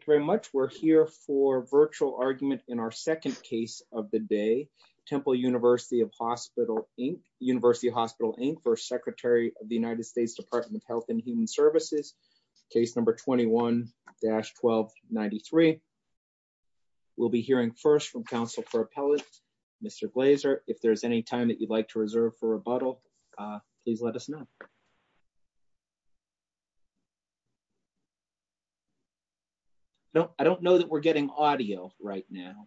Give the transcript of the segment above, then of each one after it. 21-1293. We'll be hearing first from counsel for appellate, Mr. Glaser. If there's any time that you'd like to reserve for rebuttal, please let us know. Thank you. No, I don't know that we're getting audio right now.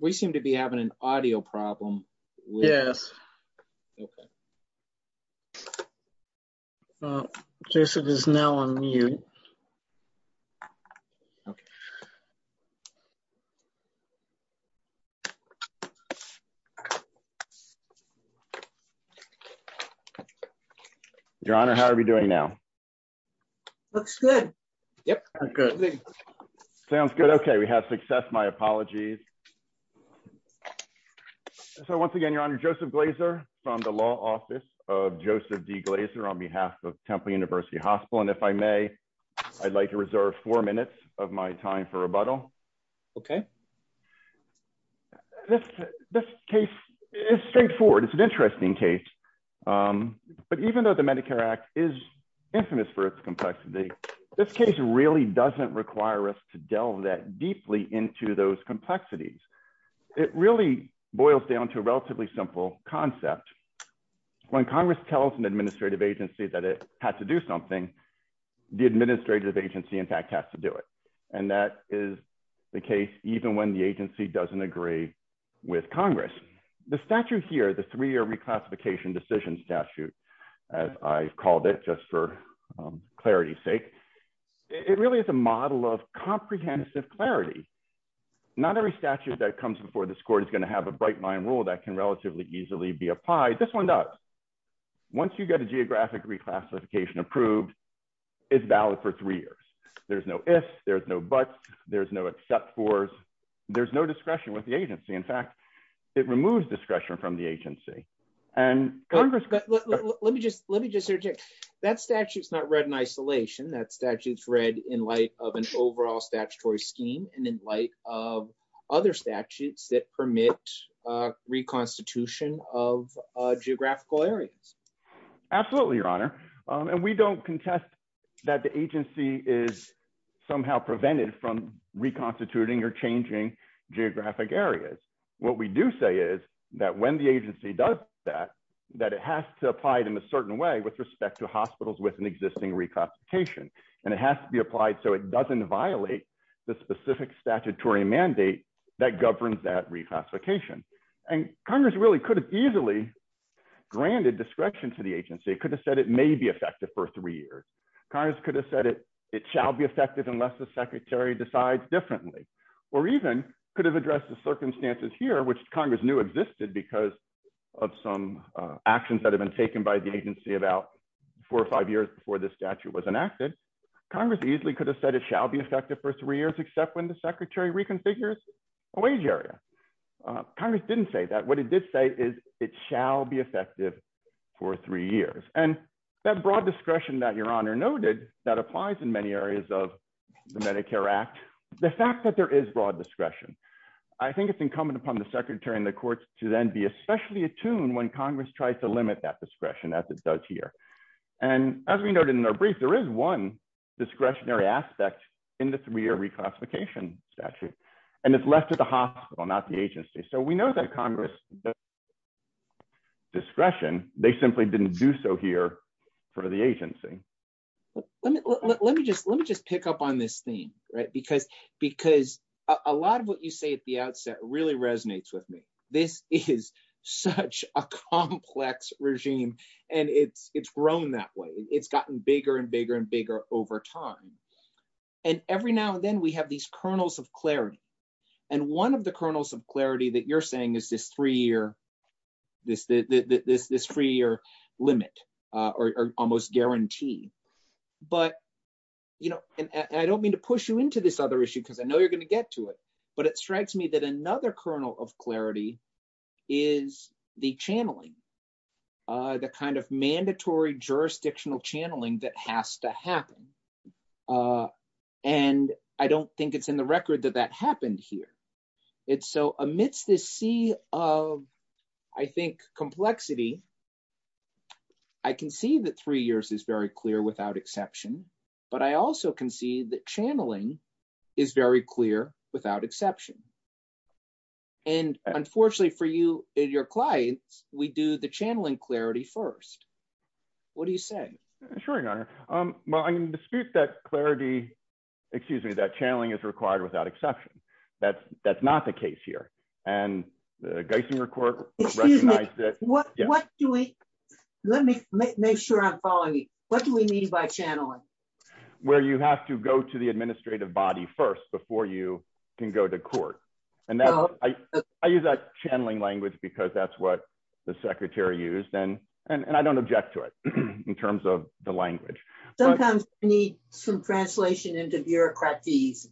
We seem to be having an audio problem. Yes. Okay. Okay. Jason is now on mute. Okay. Your Honor, how are we doing now. Looks good. Yep. Sounds good. Okay, we have success my apologies. Thank you. So once again, Your Honor, Joseph Glaser from the law office of Joseph D Glaser on behalf of Temple University Hospital and if I may, I'd like to reserve four minutes of my time for rebuttal. Okay. This case is straightforward. It's an interesting case. But even though the Medicare act is infamous for its complexity. This case really doesn't require us to delve that deeply into those complexities. It really boils down to a relatively simple concept. When Congress tells an administrative agency that it had to do something. The administrative agency in fact has to do it. And that is the case, even when the agency doesn't agree. With Congress. The statute here, the three year reclassification decision statute. As I've called it just for clarity sake. It really is a model of comprehensive clarity. Not every statute that comes before the score is going to have a bright mind rule that can relatively easily be applied. This one does. Once you get a geographic reclassification approved. It's valid for three years. There's no, if there's no, but there's no, except for. There's no discretion with the agency. In fact, it removes discretion from the agency. And Congress. Let me just, let me just interject. That statute is not read in isolation. That statute's read in light of an overall statutory scheme. And in light of other statutes that permit. Reconstitution of geographical areas. Absolutely. Your honor. And we don't contest that the agency is somehow prevented from reconstituting or changing geographic areas. We don't contest that. We don't contest that the agency has to apply it in a certain way. What we do say is that when the agency does that, That it has to apply it in a certain way with respect to hospitals with an existing reclassification. And it has to be applied. So it doesn't violate. The specific statutory mandate. That governs that reclassification. And Congress really could have easily. Granted discretion to the agency could have said it may be effective for three years. Congress could have said it. It shall be effective unless the secretary decides differently. Or even could have addressed the circumstances here, which Congress knew existed because. Of some actions that have been taken by the agency about four or five years before this statute was enacted. Congress easily could have said it shall be effective for three years, except when the secretary reconfigures. A wage area. Congress didn't say that. What did this say is it shall be effective. For three years and that broad discretion that your honor noted that applies in many areas of the Medicare act. The fact that there is broad discretion. I think it's incumbent upon the secretary and the courts to then be especially attuned when Congress tries to limit that discretion as it does here. And as we noted in our brief, there is one. Discretionary aspect. In the three-year reclassification statute. And it's left at the hospital, not the agency. So we know that Congress. Discretion. They simply didn't do so here for the agency. Let me, let me just, let me just pick up on this theme, right? Because, because a lot of what you say at the outset really resonates with me. This is such a complex regime and it's, it's grown that way. It's gotten bigger and bigger and bigger over time. And every now and then we have these kernels of clarity. And one of the kernels of clarity that you're saying is this three-year this, this, this, this three-year limit, or almost guarantee, but you know, and I don't mean to push you into this other issue because I know you're going to get to it, but it strikes me that another kernel of clarity is the channeling. The kind of mandatory jurisdictional channeling that has to happen. And I don't think it's in the record that that happened here. It's so amidst this sea of, I think, complexity. I can see that three years is very clear without exception, but I also can see that channeling is very clear without exception. And unfortunately for you and your clients, we do the channeling clarity first. What do you say? Sure. Well, I can dispute that clarity, excuse me, that channeling is required without exception. That's that's not the case here. And the Geisinger court recognized that. Let me make sure I'm following you. What do we mean by channeling? Where you have to go to the administrative body first before you can go to court. And I use that channeling language because that's what the secretary used. And I don't object to it in terms of the language. Sometimes you need some translation into bureaucracies.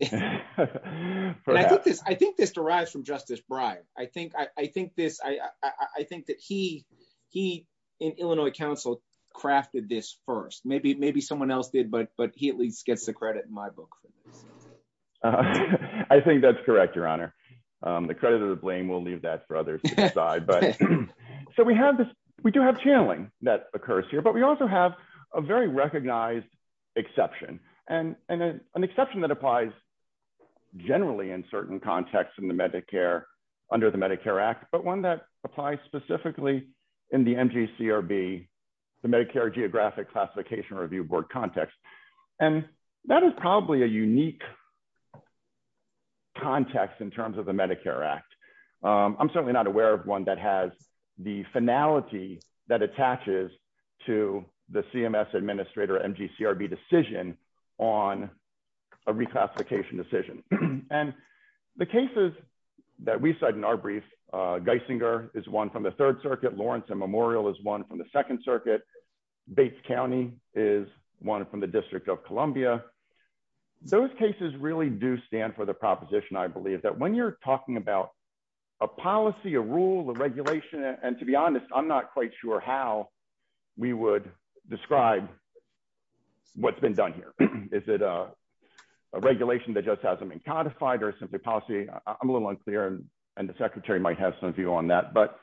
And I think this derives from Justice Breyer. I think this, I think that he in Illinois council crafted this first. Maybe someone else did, but he at least gets the credit in my book. I think that's correct, Your Honor. The credit of the blame, we'll leave that for others to decide. So we have this, we do have channeling that occurs here, but we also have a very recognized exception and an exception that applies generally in certain contexts in the Medicare under the Medicare act, but one that applies specifically in the MGCRB, the Medicare geographic classification review board context. And that is probably a unique context in terms of the Medicare act. I'm certainly not aware of one that has the finality that attaches to the CMS administrator MGCRB decision on a reclassification decision. And the cases that we cite in our brief Geisinger is one from the third circuit. Lawrence and Memorial is one from the second circuit. Bates County is one from the district of Columbia. Those cases really do stand for the proposition. I believe that when you're talking about a policy, a rule, a regulation, and to be honest, I'm not quite sure how we would describe what's been done here. Is it a regulation that just hasn't been codified or simply policy? I'm a little unclear. And the secretary might have some view on that, but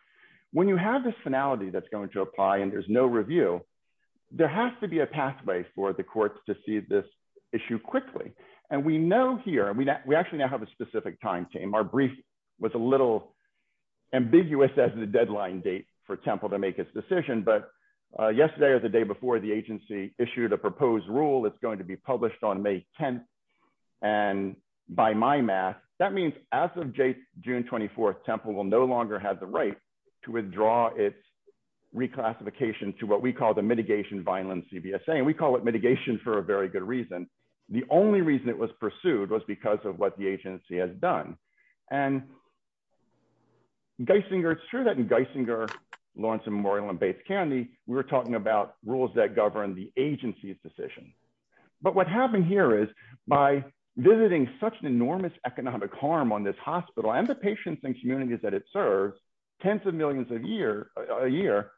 when you have this finality, that's going to apply and there's no review, there has to be a pathway for the courts to see this issue quickly. And we know here, we actually now have a specific time team. Our brief was a little ambiguous as the deadline date for temple to make its decision. But yesterday or the day before the agency issued a proposed rule, it's going to be published on May 10th. And by my math, that means as of June 24th, temple will no longer have the right to withdraw its reclassification to what we call the mitigation violence. And we call it mitigation for a very good reason. The only reason it was pursued was because of what the agency has done. And Geisinger, it's true that in Geisinger Lawrence and Memorial in Bates County, we were talking about rules that govern the agency's decision. But what happened here is by visiting such an enormous economic harm on this hospital and the patients and communities that it serves tens of millions of year, a year,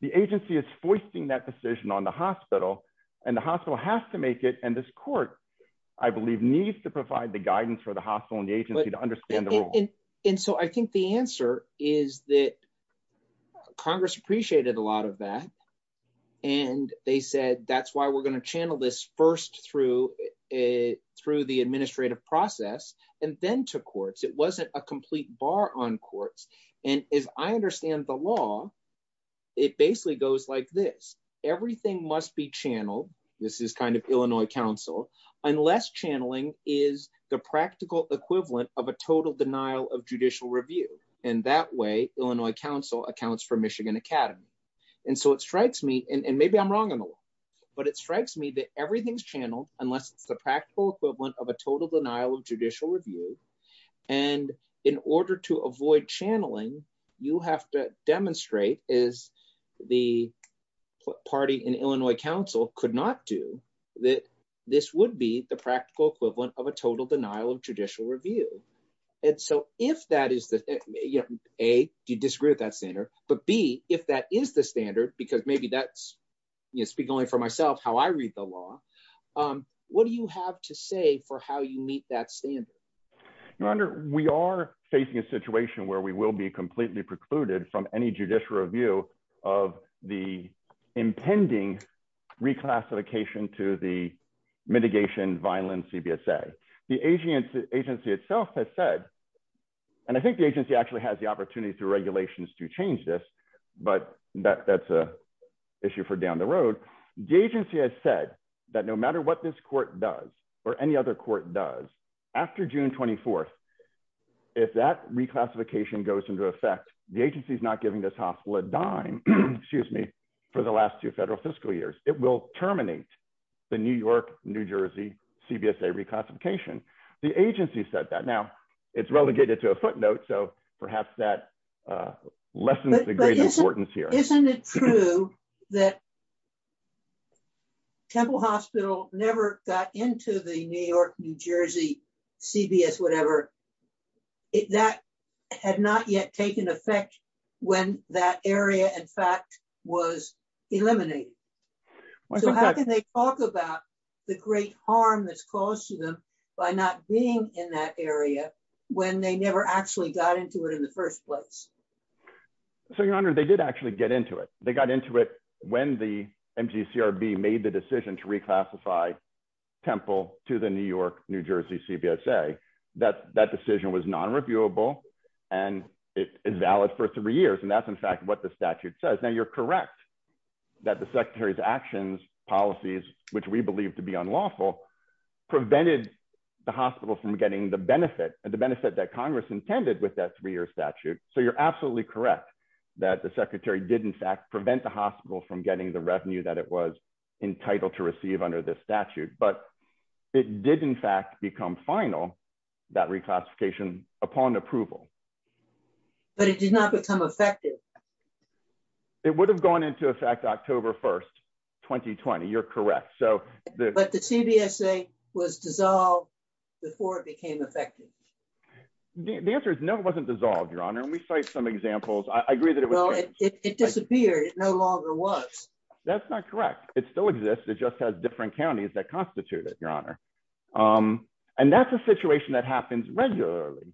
the agency is foisting that decision on the hospital and the hospital has to make it. And this court, I believe needs to provide the guidance for the hospital and the agency to understand. And so I think the answer is that Congress appreciated a lot of that. And they said, that's why we're going to channel this first through a, through the administrative process. And then to courts, it wasn't a complete bar on courts. And as I understand the law, it basically goes like this. Everything must be channeled. This is kind of Illinois council unless channeling is the practical equivalent of a total denial of judicial review. And that way, Illinois council accounts for Michigan academy. And so it strikes me, and maybe I'm wrong on the law, but it strikes me that everything's channeled unless it's the practical equivalent of a total denial of judicial review. And in order to avoid channeling, you have to demonstrate is the party in Illinois council could not do that. This would be the practical equivalent of a total denial of judicial review. And so if that is the, you know, a, do you disagree with that center? But B, if that is the standard, because maybe that's, you know, speak only for myself, how I read the law, what do you have to say for how you meet that standard? We are facing a situation where we will be completely precluded from any judicial review of the impending reclassification to the mitigation violence. CBSA, the agency agency itself has said, and I think the agency actually has the opportunity through regulations to change this, but that that's a issue for down the road. The agency has said that no matter what this court does or any other court does after June 24th, if that reclassification goes into effect, the agency is not giving this hospital a dime, excuse me, for the last two federal fiscal years, it will terminate the New York, New Jersey CBSA reclassification. The agency said that now it's relegated to a footnote. So perhaps that lessens the great importance here. Isn't it true that temple hospital never got into the New York, New Jersey CBS, whatever it, that had not yet taken effect when that area in fact was eliminated. So how can they talk about the great harm that's caused to them by not being in that area when they never actually got into it in the first place? So your honor, they did actually get into it. They got into it when the MGCRB made the decision to reclassify temple to the New York, New Jersey CBSA, that, that decision was non-reviewable and it is valid for three years. And that's in fact what the statute says. Now you're correct that the secretary's actions policies, which we believe to be unlawful prevented the hospital from getting the benefit and the benefit that Congress intended with that three year statute. So you're absolutely correct that the secretary did in fact prevent the hospital from getting the revenue that it was entitled to receive under this statute. But it did in fact become final that reclassification upon approval, but it did not become effective. It would have gone into effect October 1st, 2020. You're correct. So the, but the CBSA was dissolved before it became effective. The answer is no, it wasn't dissolved, your honor. And we cite some examples. I agree that it was. It disappeared. It no longer was. That's not correct. It still exists. It just has different counties that constitute it, your honor. And that's a situation that happens regularly.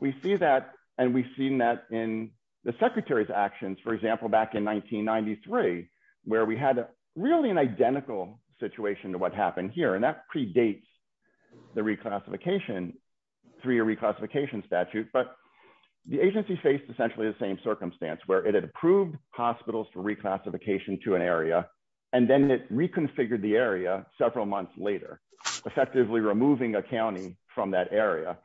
We see that and we've seen that in the secretary's actions, for example, back in 1993, where we had really an identical situation to what happened here. And that predates the reclassification three or reclassification statute, but the agency faced essentially the same circumstance where it had approved hospitals for reclassification to an area. And then it reconfigured the area several months later, effectively removing accounting from that area.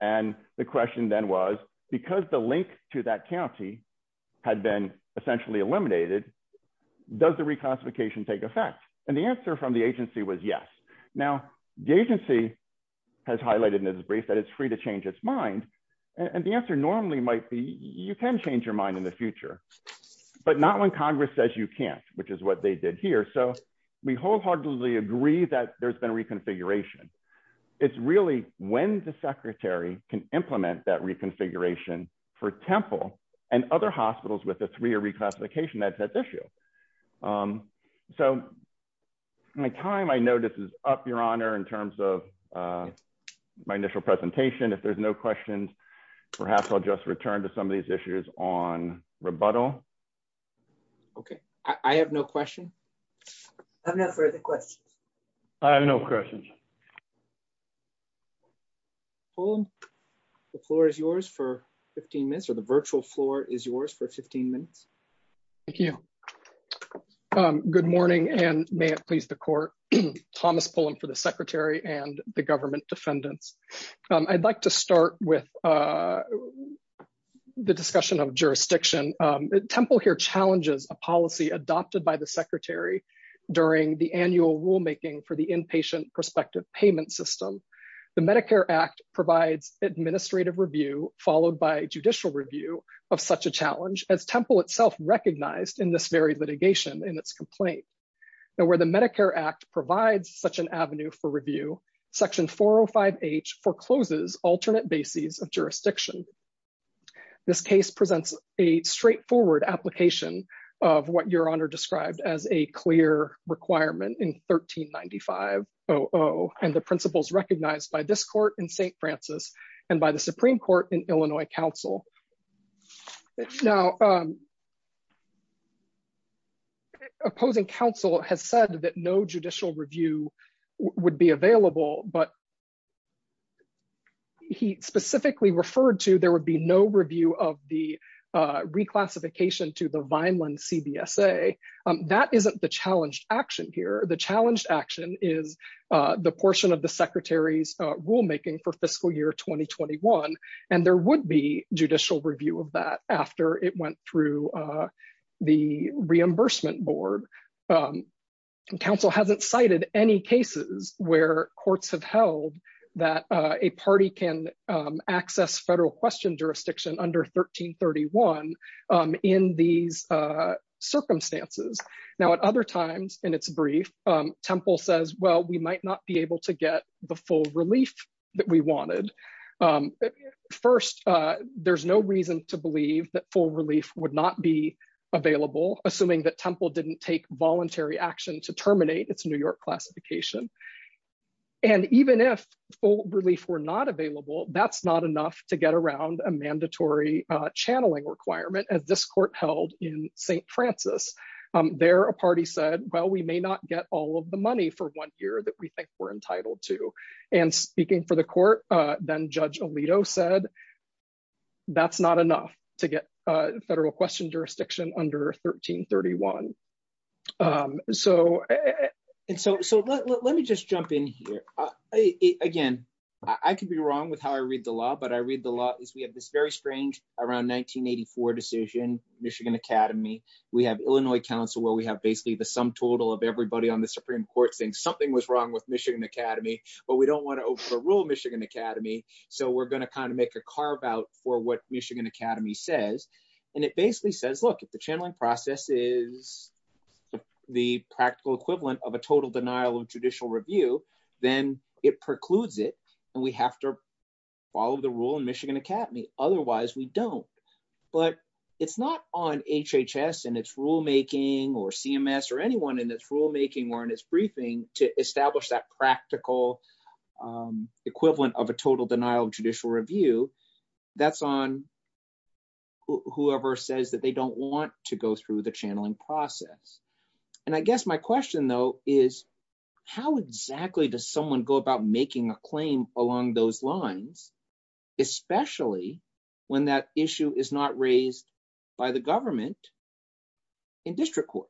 And the question then was because the link to that county had been essentially eliminated, does the reclassification take effect? And the answer from the agency was yes. Now the agency has highlighted in this brief that it's free to change its mind. And the answer normally might be, you can change your mind in the future, but not when Congress says you can't, which is what they did here. So we wholeheartedly agree that there's been a reconfiguration. It's really when the secretary can implement that reconfiguration for temple and other hospitals with the three or reclassification that's at issue. So my time, I know this is up your honor in terms of my initial presentation. If there's no questions, perhaps I'll just return to some of these issues on rebuttal. Okay. I have no question. I have no further questions. I have no questions. The floor is yours for 15 minutes or the virtual floor is yours for 15 minutes. Thank you. Good morning. And may it please the court, Thomas Pullen for the secretary and the government defendants. I'd like to start with the discussion of jurisdiction. Temple here challenges a policy adopted by the secretary during the annual rulemaking for the inpatient prospective payment system. The Medicare act provides administrative review followed by judicial review of such a challenge as temple itself recognized in this very litigation in its complaint. Now where the Medicare act provides such an avenue for review, section 405 H forecloses alternate bases of jurisdiction. This case presents a straightforward application of what your honor described as a clear requirement in 1395. Oh, and the principles recognized by this court in St. Francis and by the Supreme court in Illinois council now opposing council has said that no judicial review would be available, but he specifically referred to, there would be no review of the reclassification to the Vineland CBSA. That isn't the challenged action here. The challenged action is the portion of the secretary's rulemaking for fiscal year 2021. And there would be judicial review of that after it went through the reimbursement board council hasn't cited any cases where courts have held that a party can access federal question jurisdiction under 1331 in these circumstances. Now at other times in its brief temple says, well, we might not be able to get the full relief that we wanted. First, there's no reason to believe that full relief would not be available. Assuming that temple didn't take voluntary action to terminate its New York classification. And even if full relief were not available, that's not enough to get around a mandatory channeling requirement as this court held in St. Francis there, a party said, well, we may not get all of the money for one year that we think we're entitled to. And speaking for the court, then judge Alito said, that's not enough to get a federal question jurisdiction under 1331. So, and so, so let me just jump in here. Again, I could be wrong with how I read the law, but I read the law is we have this very strange around 1984 decision, Michigan Academy. We have Illinois council where we have basically the sum total of everybody on the Supreme court saying something was wrong with Michigan Academy, but we don't want to overrule Michigan Academy. So we're going to kind of make a carve out for what Michigan Academy says. And it basically says, look, if the channeling process is the practical equivalent of a total denial of judicial review, then it precludes it and we have to follow the rule in Michigan Academy. Otherwise we don't, but it's not on HHS and it's rulemaking or CMS or anyone in this rulemaking or in his briefing to establish that practical equivalent of a total denial of judicial review. That's on whoever says that they don't want to go through the channeling process. And I guess my question though, is how exactly does someone go about making a claim along those lines, especially when that issue is not raised by the government in district court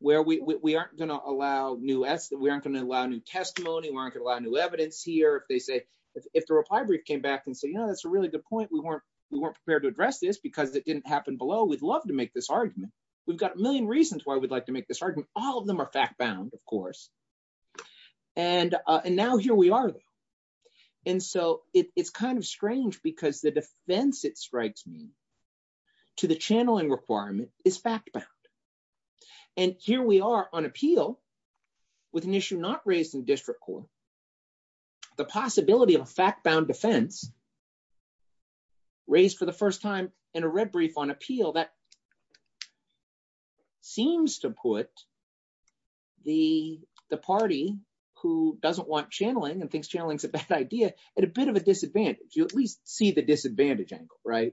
where we aren't going to allow new S we aren't going to allow new testimony. We aren't going to allow new evidence here. If they say, if the reply brief came back and say, you know, that's a really good point. We weren't, we weren't prepared to address this because it didn't happen below. We'd love to make this argument. We've got a million reasons why we'd like to make this argument. All of them are fact bound, of course. And, and now here we are. And so it's kind of strange because the defense it strikes me to the channeling requirement is fact bound. And here we are on appeal with an issue, not raising district court, the possibility of a fact bound defense raised for the first time in a red brief on appeal that seems to put the, the defense in a position where it doesn't want channeling and thinks channeling is a bad idea at a bit of a disadvantage. You at least see the disadvantage angle, right?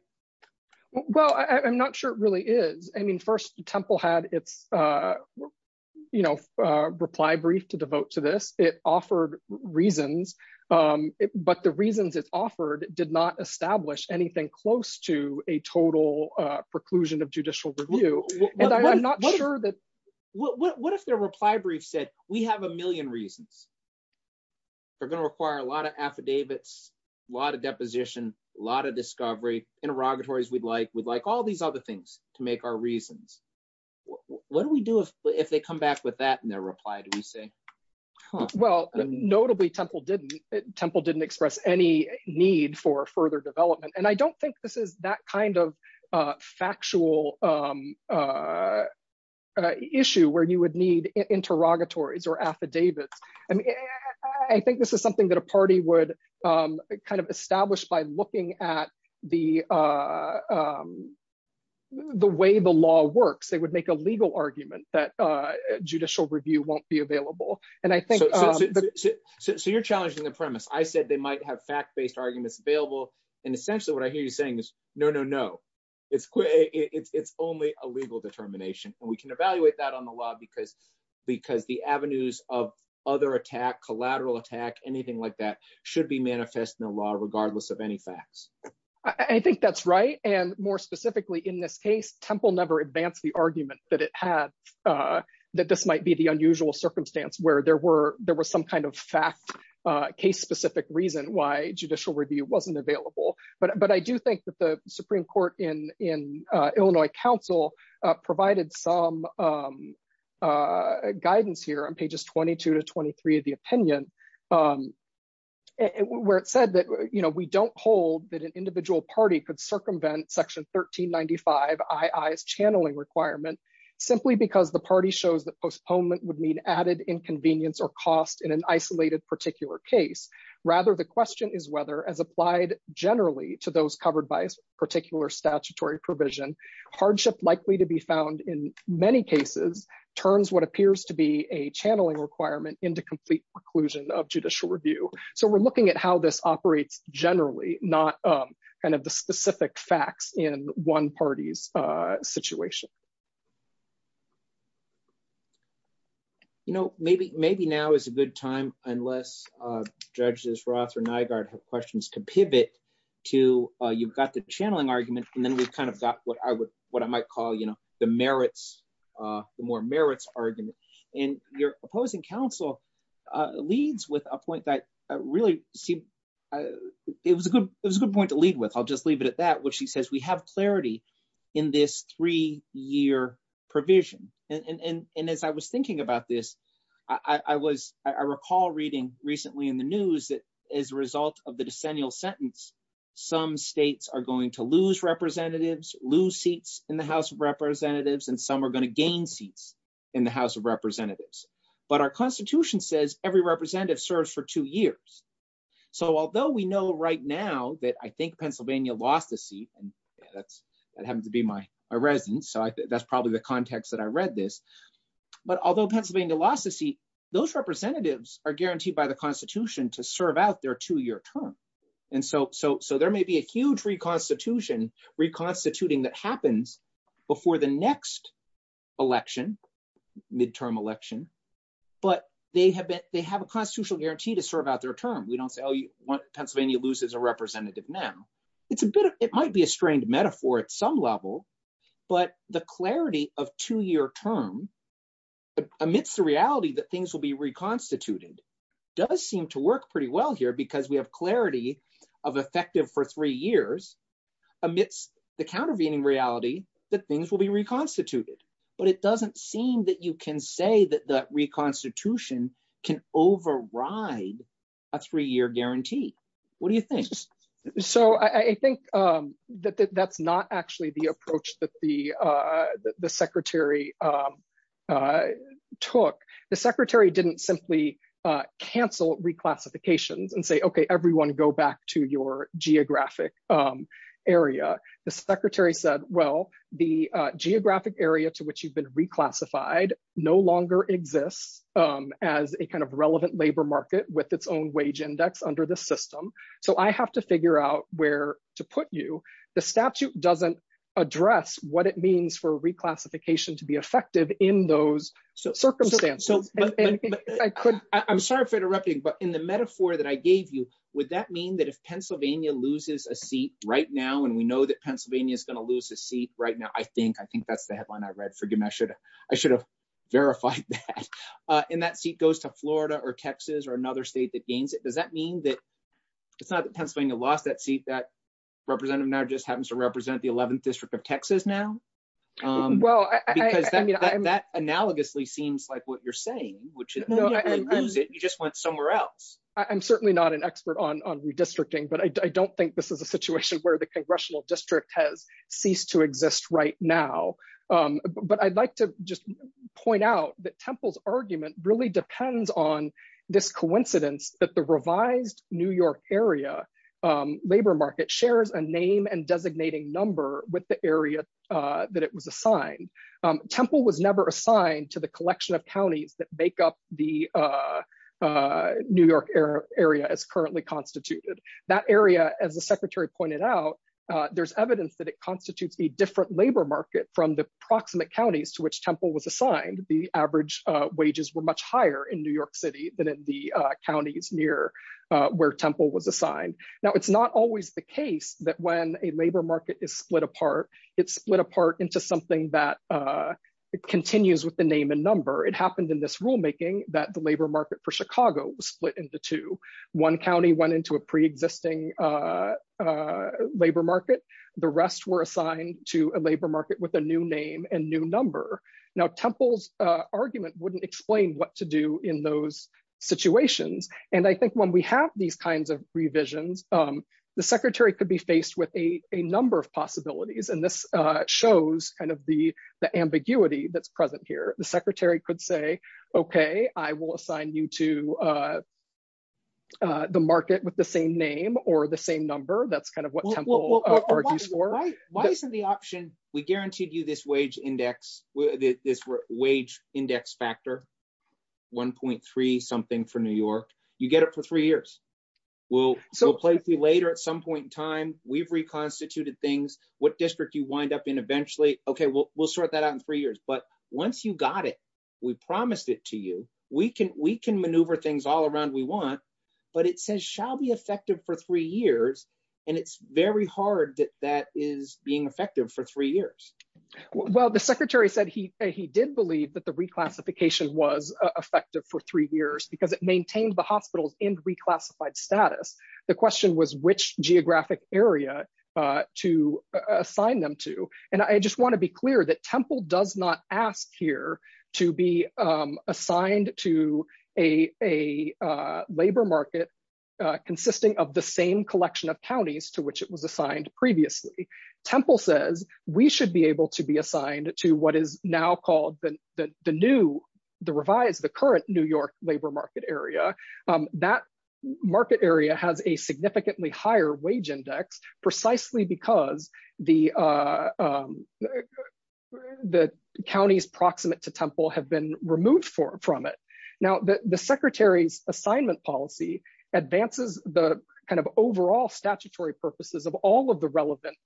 Well, I'm not sure it really is. I mean, first the temple had its you know, a reply brief to devote to this. It offered reasons. But the reasons it's offered did not establish anything close to a total preclusion of judicial review. And I'm not sure that what, what, what if their reply brief said, we have a million reasons. They're going to require a lot of affidavits, a lot of deposition, a lot of discovery interrogatories. We'd like, we'd like all these other things to make our reasons. What do we do if, if they come back with that in their reply? Do we say, well, notably temple didn't temple didn't express any need for further development. And I don't think this is that kind of factual issue where you would need interrogatories or affidavits. I mean, I think this is something that a party would kind of establish by looking at the the way the law works, they would make a legal argument that judicial review won't be available. And I think. So you're challenging the premise. I said they might have fact-based arguments available. And essentially what I hear you saying is no, no, no. It's, it's, it's only a legal determination. And we can evaluate that on the law because, because the avenues of other attack, collateral attack, anything like that should be manifest in the law, regardless of any facts. I think that's right. And more specifically in this case, temple never advanced the argument that it had, that this might be the unusual circumstance where there were, there was some kind of fact case specific reason why judicial review wasn't available. But, but I do think that the Supreme court in in Illinois council provided some guidance here on pages 22 to 23 of the opinion, where it said that, you know, we don't hold that an individual party could circumvent section 1395 IIS channeling requirement simply because the party shows that postponement would mean added inconvenience or cost in an isolated particular case. Rather, the question is whether as applied generally to those covered by particular statutory provision, hardship likely to be found in many cases turns what appears to be a channeling requirement into complete preclusion of judicial review. So we're looking at how this operates generally, not kind of the specific facts in one party's situation. You know, maybe, maybe now is a good time, unless judges Roth or Nygaard have questions to pivot to you've got the channeling argument and then we've kind of got what I would, what I might call, you know, the merits, the more merits argument and your opposing council leads with a point that really seemed, it was a good, it was a good point to lead with. I'll just leave it at that, which he says we have clarity in this three year provision. And as I was thinking about this, I was, I recall reading recently in the news that as a result of the decennial sentence, some states are going to lose representatives, lose seats in the house of representatives, and some are going to gain seats in the house of representatives. But our constitution says every representative serves for two years. So although we know right now that I think Pennsylvania lost a seat and that's that happened to be my residence. So that's probably the context that I read this, but although Pennsylvania lost a seat, those representatives are guaranteed by the constitution to serve out their two year term. And so, so, so there may be a huge reconstitution, reconstituting that happens before the next election midterm election, but they have been, they have a constitutional guarantee to serve out their term. We don't say, Oh, Pennsylvania loses a representative now. It's a bit of, it might be a strained metaphor at some level, but the clarity of two year term amidst the reality that things will be reconstituted does seem to work pretty well here because we have clarity of effective for three years amidst the countervailing reality that things will be reconstituted, but it doesn't seem that you can say that that reconstitution can override a three year guarantee. What do you think? So I think that that's not actually the approach that the the secretary took. The secretary didn't simply cancel reclassifications and say, okay, everyone go back to your geographic area. The secretary said, well, the geographic area to which you've been reclassified no longer exists as a kind of relevant labor market with its own wage index under the system. So I have to figure out where to put you. The statute doesn't address what it means for reclassification to be effective in those circumstances. I'm sorry for interrupting, but in the metaphor that I gave you, would that mean that if Pennsylvania loses a seat right now and we know that Pennsylvania is going to lose a seat right now, I think, I think that's the headline I read. Forgive me. I should have, I should have verified that. And that seat goes to Florida or Texas or another state that gains it. Does that mean that it's not that Pennsylvania lost that seat, that representative now just happens to represent the 11th district of Texas now? Well, because that analogously seems like what you're saying, which is you just went somewhere else. I'm certainly not an expert on redistricting, but I don't think this is a situation where the congressional district has ceased to exist right now. But I'd like to just point out that Temple's argument really depends on this idea that the revised New York area labor market shares a name and designating number with the area that it was assigned. Temple was never assigned to the collection of counties that make up the New York area as currently constituted. That area, as the secretary pointed out, there's evidence that it constitutes a different labor market from the proximate counties to which Temple was assigned. The average wages were much higher in New York city than in the counties near where Temple was assigned. Now it's not always the case that when a labor market is split apart, it's split apart into something that continues with the name and number. It happened in this rulemaking that the labor market for Chicago was split into two. One county went into a preexisting labor market. The rest were assigned to a labor market with a new name and new number. Now Temple's argument wouldn't explain what to do in those situations. And I think when we have these kinds of revisions, the secretary could be faced with a number of possibilities and this shows kind of the ambiguity that's present here. The secretary could say, okay, I will assign you to the market with the same name or the same number. That's kind of what Temple argues for. Why isn't the option, we guaranteed you this wage index, this wage index factor, 1.3 something for New York. You get it for three years. We'll play through later at some point in time, we've reconstituted things. What district you wind up in eventually. Okay. We'll sort that out in three years, but once you got it, we promised it to you. We can maneuver things all around we want, but it says shall be effective for three years. And it's very hard that that is being effective for three years. Well, the secretary said he, he did believe that the reclassification was effective for three years because it maintained the hospitals in reclassified status. The question was which geographic area to assign them to. And I just want to be clear that Temple does not ask here to be assigned to a, a labor market consisting of the same collection of counties to which it was assigned previously. Temple says we should be able to be assigned to what is now called the, the new, the revised, the current New York labor market area. That market area has a significantly higher wage index precisely because the, the counties proximate to Temple have been removed from it. Now that the secretary's assignment policy advances the kind of overall statutory purposes of all of the relevant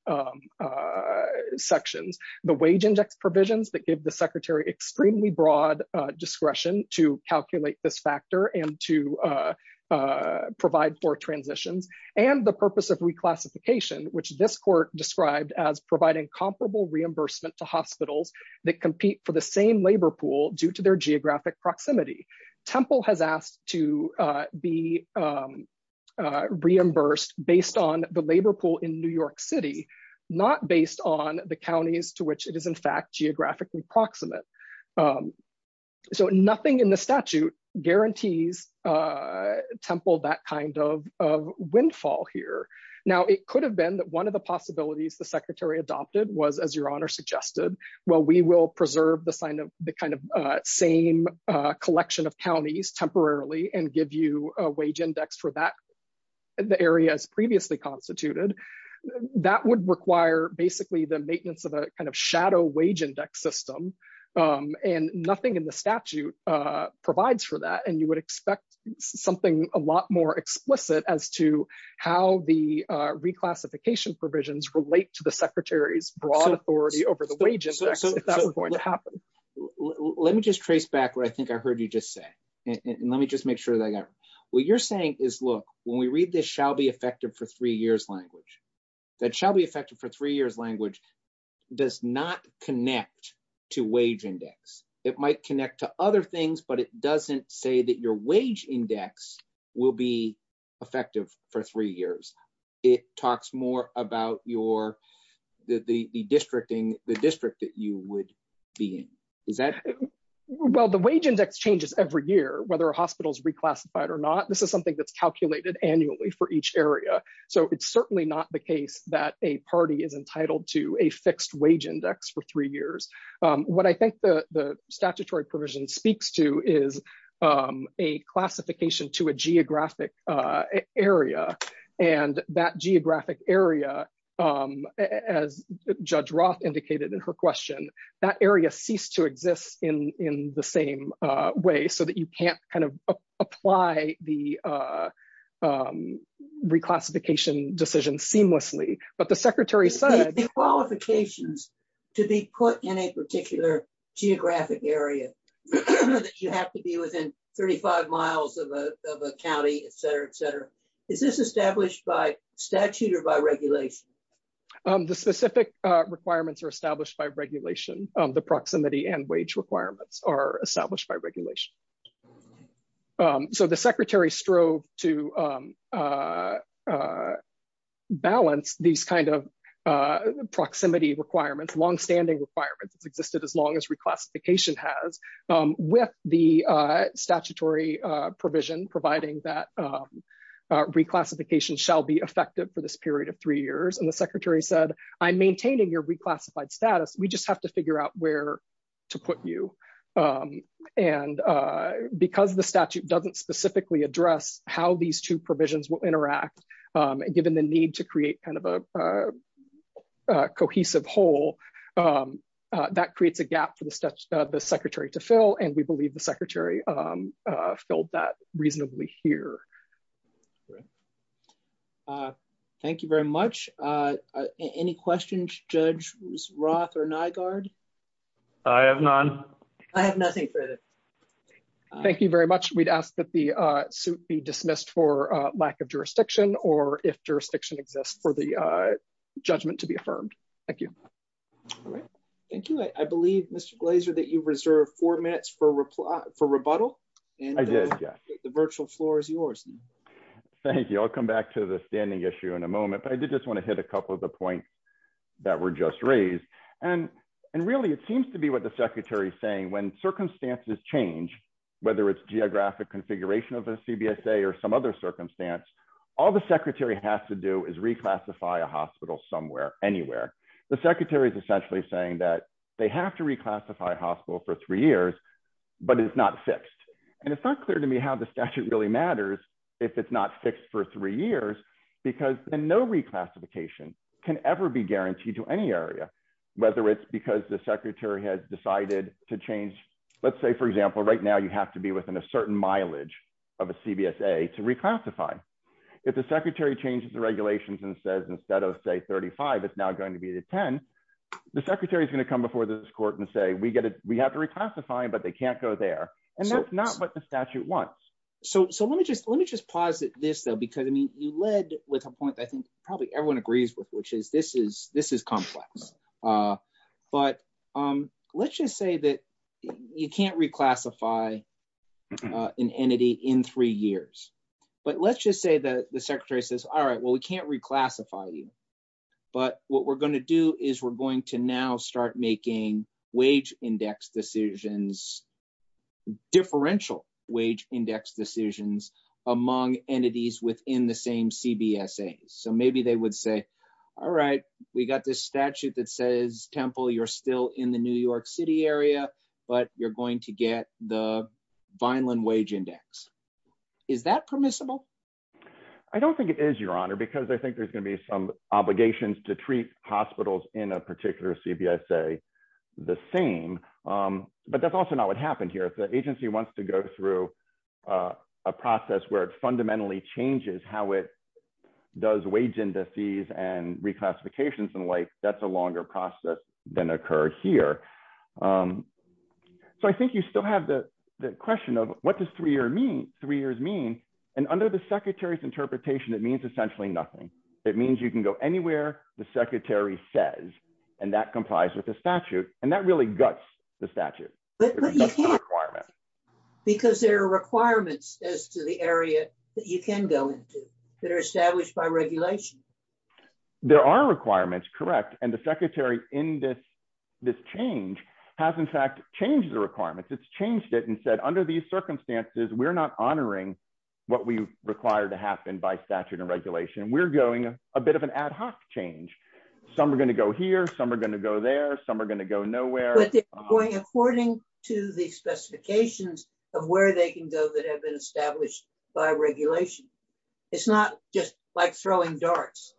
sections, the wage index provisions that give the secretary extremely broad discretion to calculate this factor and to provide for transitions and the purpose of reclassification, which this court described as providing comparable reimbursement to hospitals that compete for the same labor pool due to their geographic proximity. Temple has asked to be reimbursed based on the labor pool in New York city, not based on the counties to which it is in fact geographically proximate. So nothing in the statute guarantees Temple that kind of, of windfall here. Now it could have been that one of the possibilities the secretary adopted was as your honor suggested, well, we will preserve the sign of the kind of same collection of counties temporarily and give you a wage index for that. The area has previously constituted that would require basically the maintenance of a kind of shadow wage index system. And nothing in the statute provides for that. And you would expect something a lot more explicit as to how the reclassification provisions relate to the secretary's broad authority over the wages. If that was going to happen. Let me just trace back where I think I heard you just say, and let me just make sure that I got what you're saying is, look, when we read this shall be effective for three years, language. That shall be effective for three years. Language. Does not connect to wage index. It might connect to other things, but it doesn't say that your wage index will be effective for three years. It talks more about your, the districting, the district that you would be in is that well, the wage index changes every year, whether a hospital is reclassified or not. This is something that's calculated annually for each area. So it's certainly not the case that a party is entitled to a fixed wage index for three years. What I think the statutory provision speaks to is a classification to a geographic area. And that geographic area as judge Roth indicated in her question, that area ceased to exist in, in the same way so that you can't kind of apply the reclassification decision seamlessly, but the secretary said qualifications. To be put in a particular geographic area. You have to be within 35 miles of a, of a county, et cetera, et cetera. Is this established by statute or by regulation? The specific requirements are established by regulation. The proximity and wage requirements are established by regulation. So the secretary strove to balance these kinds of proximity requirements, longstanding requirements. It's existed as long as reclassification has with the statutory provision, providing that reclassification shall be effective for this period of three years. And the secretary said, I'm maintaining your reclassified status. We just have to figure out where to put you. And because the statute doesn't specifically address how these two provisions will interact. And given the need to create kind of a cohesive hole that creates a gap for the secretary to fill. And we believe the secretary filled that reasonably here. Thank you very much. Any questions, judge Roth or Nygaard? I have none. I have nothing further. Thank you very much. We'd ask that the suit be dismissed for lack of jurisdiction or if jurisdiction exists for the judgment to be affirmed. Thank you. Thank you. I believe Mr. Glaser that you've reserved four minutes for reply for rebuttal and the virtual floor is yours. Thank you. I'll come back to the standing issue in a moment, but I did just want to hit a couple of the points that were just raised. And, and really it seems to be what the secretary is saying. When circumstances change, whether it's geographic configuration of a CBSA or some other circumstance, all the secretary has to do is reclassify a hospital somewhere, anywhere. The secretary is essentially saying that they have to reclassify a hospital for three years, but it's not fixed. And it's not clear to me how the statute really matters. If it's not fixed for three years, because then no reclassification can ever be guaranteed to any area, whether it's because the secretary has decided to change. Let's say for example, right now, you have to be within a certain mileage of a CBSA to reclassify. If the secretary changes the regulations and says, instead of say 35, it's now going to be the 10. The secretary is going to come before this court and say, we get it. We have to reclassify, but they can't go there. And that's not what the statute wants. So, so let me just, let me just posit this though, because I mean, you led with a point that I think probably everyone agrees with, which is this is, this is complex. But let's just say that you can't reclassify an entity in three years, but let's just say that the secretary says, all right, well, we can't reclassify you. But what we're going to do is we're going to now start making wage index decisions, differential wage index decisions among entities within the same CBSA. So maybe they would say, all right, we got this statute that says temple. You're still in the New York city area, but you're going to get the Vineland wage index. Is that permissible? I don't think it is your honor, because I think there's going to be some obligations to treat hospitals in a particular CBSA. The same, but that's also not what happened here. The agency wants to go through a process where it fundamentally changes how it does wage indices and reclassifications in life. That's a longer process than occurred here. So I think you still have the question of what does three year mean three years mean. And under the secretary's interpretation, it means essentially nothing. It means you can go anywhere. The secretary says, and that complies with the statute. And that really guts the statute. Because there are requirements as to the area that you can go into that are established by regulation. There are requirements. Correct. And the secretary in this, this change has in fact changed the requirements. It's changed it and said, under these circumstances, we're not honoring what we require to happen by statute and regulation. We're going a bit of an ad hoc change. Some are going to go here. Some are going to go there. Some are going to go nowhere. According to the specifications of where they can go that have been established by regulation. It's not just like throwing darts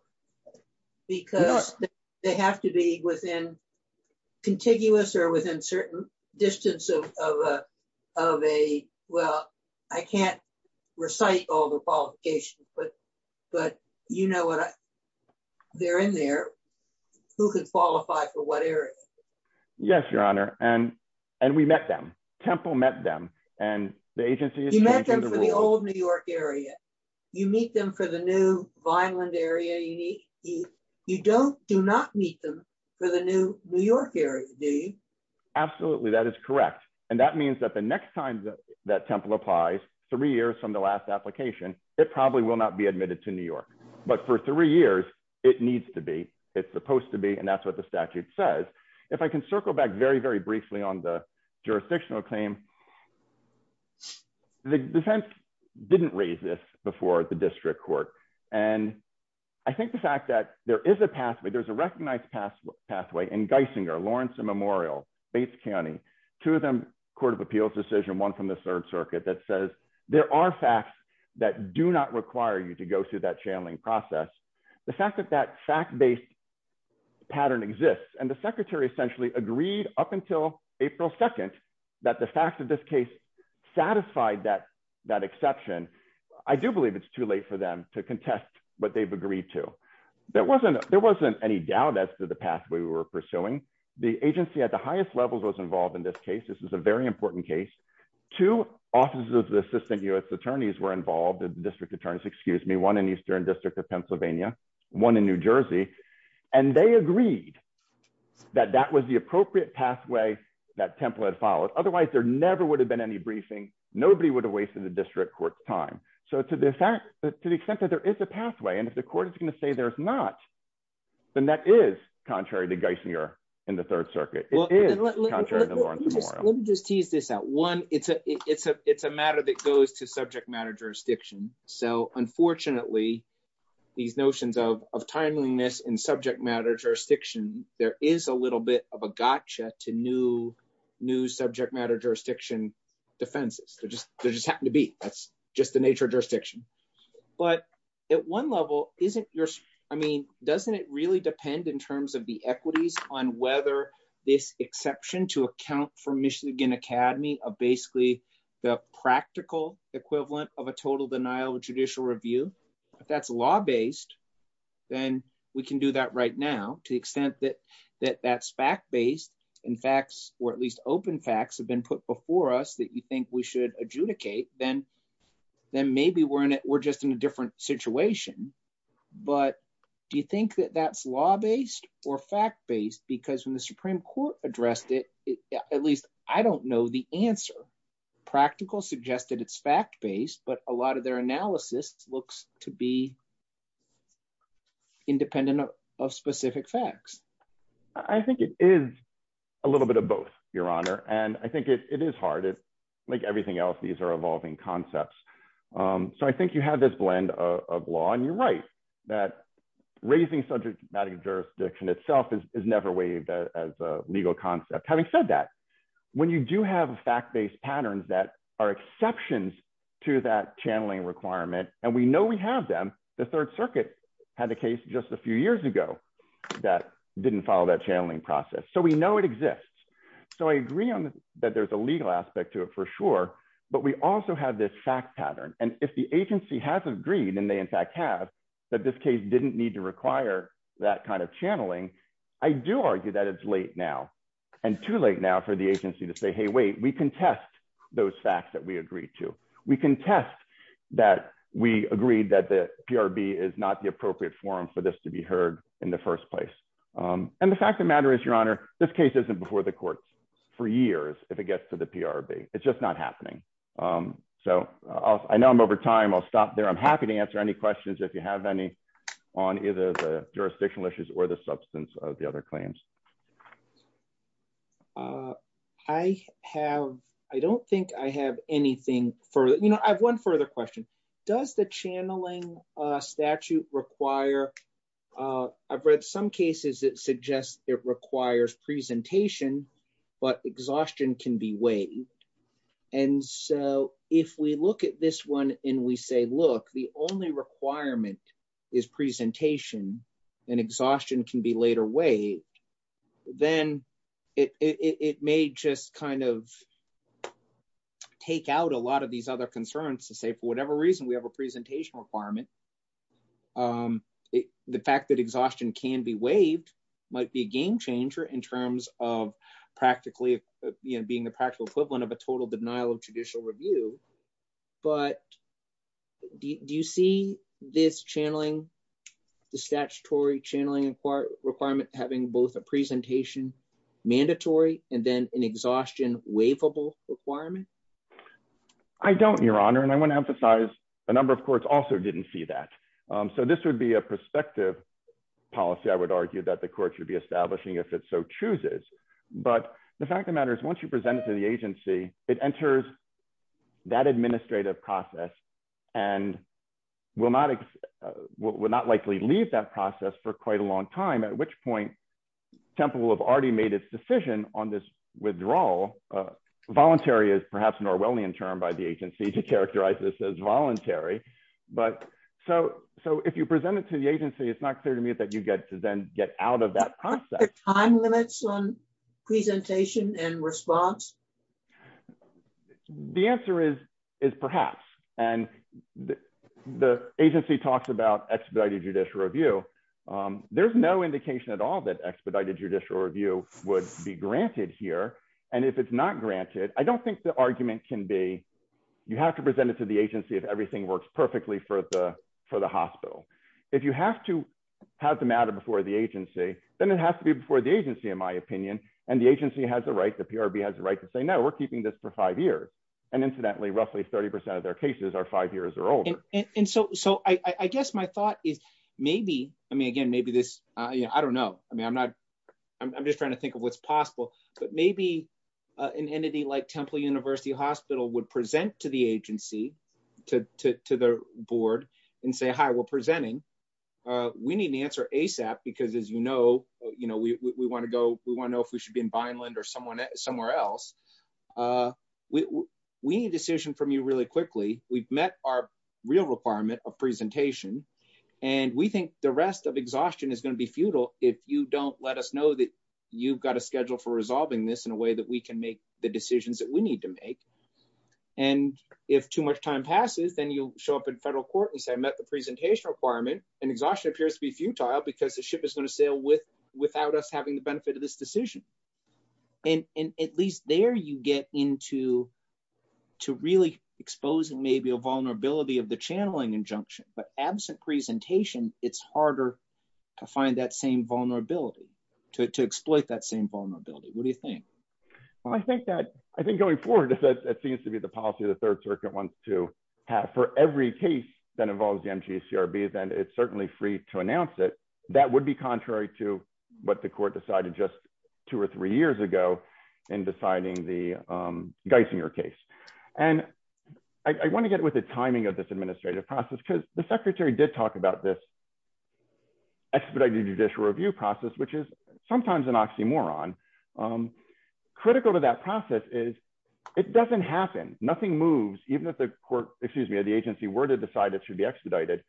because they have to be within contiguous or within certain distance of, of, of a, well, I can't recite all the qualifications, but, but you know what? They're in there. Who could qualify for what area? Yes, your honor. And, and we met them. Temple met them and the agency is the old New York area. You meet them for the new Vineland area. You don't, do not meet them for the new New York area. Absolutely. That is correct. And that means that the next time that temple applies three years from the last application, it probably will not be admitted to New York, but for three years, it needs to be, it's supposed to be. And that's what the statute says. If I can circle back very, very briefly on the jurisdictional claim, the defense didn't raise this before the district court. And I think the fact that there is a pathway, there's a recognized path pathway in Geisinger Lawrence and Memorial Bates County, two of them, court of appeals decision, one from the third circuit that says there are facts that do not require you to go through that channeling process. The fact that that fact-based pattern exists and the secretary essentially agreed up until April 2nd, that the fact that this case satisfied that, that exception, I do believe it's too late for them to contest what they've agreed to. There wasn't, there wasn't any doubt as to the pathway we were pursuing. The agency at the highest levels was involved in this case. This was a very important case. Two offices of the assistant U S attorneys were involved in the district attorneys, excuse me, one in Eastern district of Pennsylvania, one in New Jersey. And they agreed that that was the appropriate pathway that template followed. Otherwise there never would have been any briefing. Nobody would have wasted the district court time. So to the fact that, to the extent that there is a pathway, and if the court is going to say there's not, then that is contrary to Geisinger in the third circuit. Let me just tease this out one. It's a, it's a, it's a matter that goes to subject matter jurisdiction. So unfortunately these notions of timeliness in subject matter jurisdiction, there is a little bit of a gotcha to new, new subject matter, jurisdiction defenses. They're just, they're just happening to be, that's just the nature of jurisdiction. But at one level, isn't your, I mean, doesn't it really depend in terms of the equities on whether this exception to account for Michigan academy are basically the practical equivalent of a total denial of judicial review. That's law based, then we can do that right now to the extent that, that that's fact-based and facts or at least open facts have been put before us that you think we should adjudicate. Then, then maybe we're in it. We're just in a different situation, but do you think that that's law-based or fact-based? Because when the Supreme court addressed it, at least I don't know the answer practical suggested it's fact-based, but a lot of their analysis looks to be independent of specific facts. I think it is a little bit of both your honor. And I think it is hard. It's like everything else. These are evolving concepts. So I think you have this blend of law and you're right that raising subject matter jurisdiction itself is never waived as a legal concept. Having said that when you do have a fact-based patterns that are exceptions to that channeling requirement, and we know we have them, the third circuit had the case just a few years ago that didn't follow that channeling process. So we know it exists. So I agree on that. There's a legal aspect to it for sure, but we also have this fact pattern. And if the agency has agreed and they in fact have that this case didn't need to require that kind of channeling, I do argue that it's late now and too late now for the agency to say, Hey, wait, we can test those facts that we agreed to. We can test that. We agreed that the PRB is not the appropriate forum for this to be heard in the first place. And the fact of the matter is your honor, this case isn't before the courts for years. If it gets to the PRB, it's just not happening. So I know I'm over time. I'll stop there. I'm happy to answer any questions. If you have any on either the jurisdictional issues or the substance of the other claims. I have, I don't think I have anything for, you know, I have one further question. Does the channeling statute require, I've read some cases that suggest it requires presentation, but exhaustion can be weighed. And so if we look at this one and we say, look, the only requirement is presentation and exhaustion can be later weighed. Then it, it, it may just kind of take out a lot of these other concerns to say, for whatever reason, we have a presentation requirement. The fact that exhaustion can be waived might be a game changer in terms of practically, you know, being the practical equivalent of a total denial of judicial review. But do you see this channeling the statutory channeling requirement having both a presentation mandatory and then an exhaustion waivable requirement? I don't your honor. And I want to emphasize a number of courts also didn't see that. So this would be a perspective policy. I would argue that the court should be establishing if it's so chooses, but the fact of the matter is once you present it to the agency, it enters that administrative process and will not, will not likely leave that process for quite a long time, at which point temple will have already made its decision on this withdrawal. Voluntary is perhaps an Orwellian term by the agency to characterize this as voluntary. But so, so if you present it to the agency, it's not clear to me that you get to then get out of that process. Time limits on presentation and response. The answer is, is perhaps, and the agency talks about expedited judicial review. There's no indication at all that expedited judicial review would be granted here. And if it's not granted, I don't think the argument can be, you have to present it to the agency. If everything works perfectly for the, for the hospital, if you have to have the matter before the agency, then it has to be before the agency, in my opinion. And the agency has the right, the PRB has the right to say, no, we're keeping this for five years. And incidentally, roughly 30% of their cases are five years or older. And so, so I guess my thought is maybe, I mean, again, maybe this, you know, I don't know. I mean, I'm not, I'm just trying to think of what's possible. But maybe an entity like Temple university hospital would present to the agency, to, to, to the board and say, hi, we're presenting. We need an answer ASAP because as you know, you know, we, we want to go, we want to know if we should be in Vineland or someone somewhere else. We need a decision from you really quickly. We've met our real requirement of presentation and we think the rest of exhaustion is going to be futile. If you don't let us know that you've got a schedule for resolving this in a way that we can make the decisions that we need to make. And if too much time passes, then you show up in federal court and say I met the presentation requirement and exhaustion appears to be futile because the ship is going to sail with, without us having the benefit of this decision. And at least there you get into, to really exposing maybe a vulnerability of the channeling injunction, but absent presentation, it's harder to find that same vulnerability to, to exploit that same vulnerability. What do you think? Well, I think that, I think going forward, it seems to be the policy of the third circuit wants to have for every case that involves the MGS CRB, then it's certainly free to announce it. That would be contrary to what the court decided just two or three years ago in deciding the Geisinger case. And I want to get with the timing of this administrative process, because the secretary did talk about this expedited judicial review process, which is sometimes an oxymoron. Critical to that process is it doesn't happen. Nothing moves. Even if the court, excuse me, or the agency were to decide it should be expedited.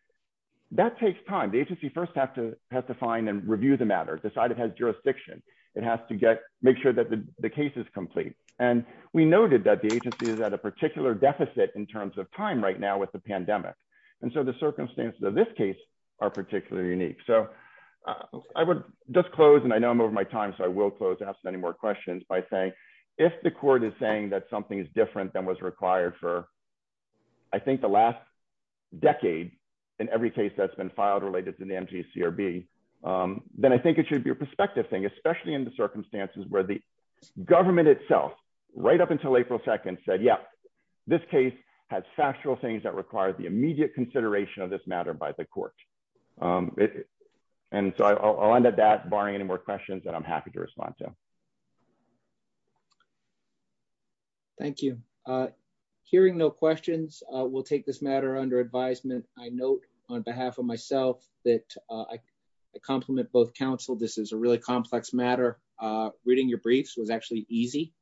That takes time. The agency first have to have to find and review the matter, decide it has jurisdiction. It has to get, make sure that the case is complete. And we noted that the agency is at a particular deficit in terms of time right now with the pandemic. And so the circumstances of this case are particularly unique. So I would just close and I know I'm over my time. So I will close to ask any more questions by saying if the court is saying that something is different than was required for, I think the last decade in every case that's been filed related to the MGS CRB, then I think it should be a perspective thing, especially in the circumstances where the government itself right up until April 2nd said, yeah, this case has factual things that require the immediate consideration of this matter by the court. And so I'll end at that barring any more questions that I'm happy to respond to. Thank you. Hearing no questions. We'll take this matter under advisement. I note on behalf of myself that I compliment both counsel. This is a really complex matter. Reading your briefs was actually easy,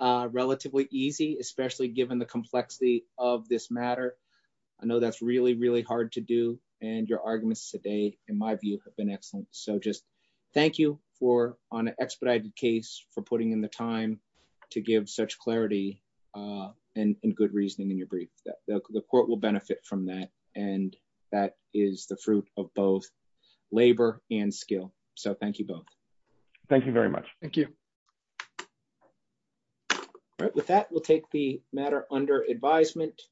relatively easy, especially given the complexity of this matter. I know that's really, really hard to do. And your arguments today, in my view have been excellent. So just thank you for on an expedited case for putting in the time to give such clarity and good reasoning in your brief that the court will benefit from that. And that is the fruit of both labor and skill. So thank you both. Thank you very much. Thank you. All right. With that, we'll take the matter under advisement.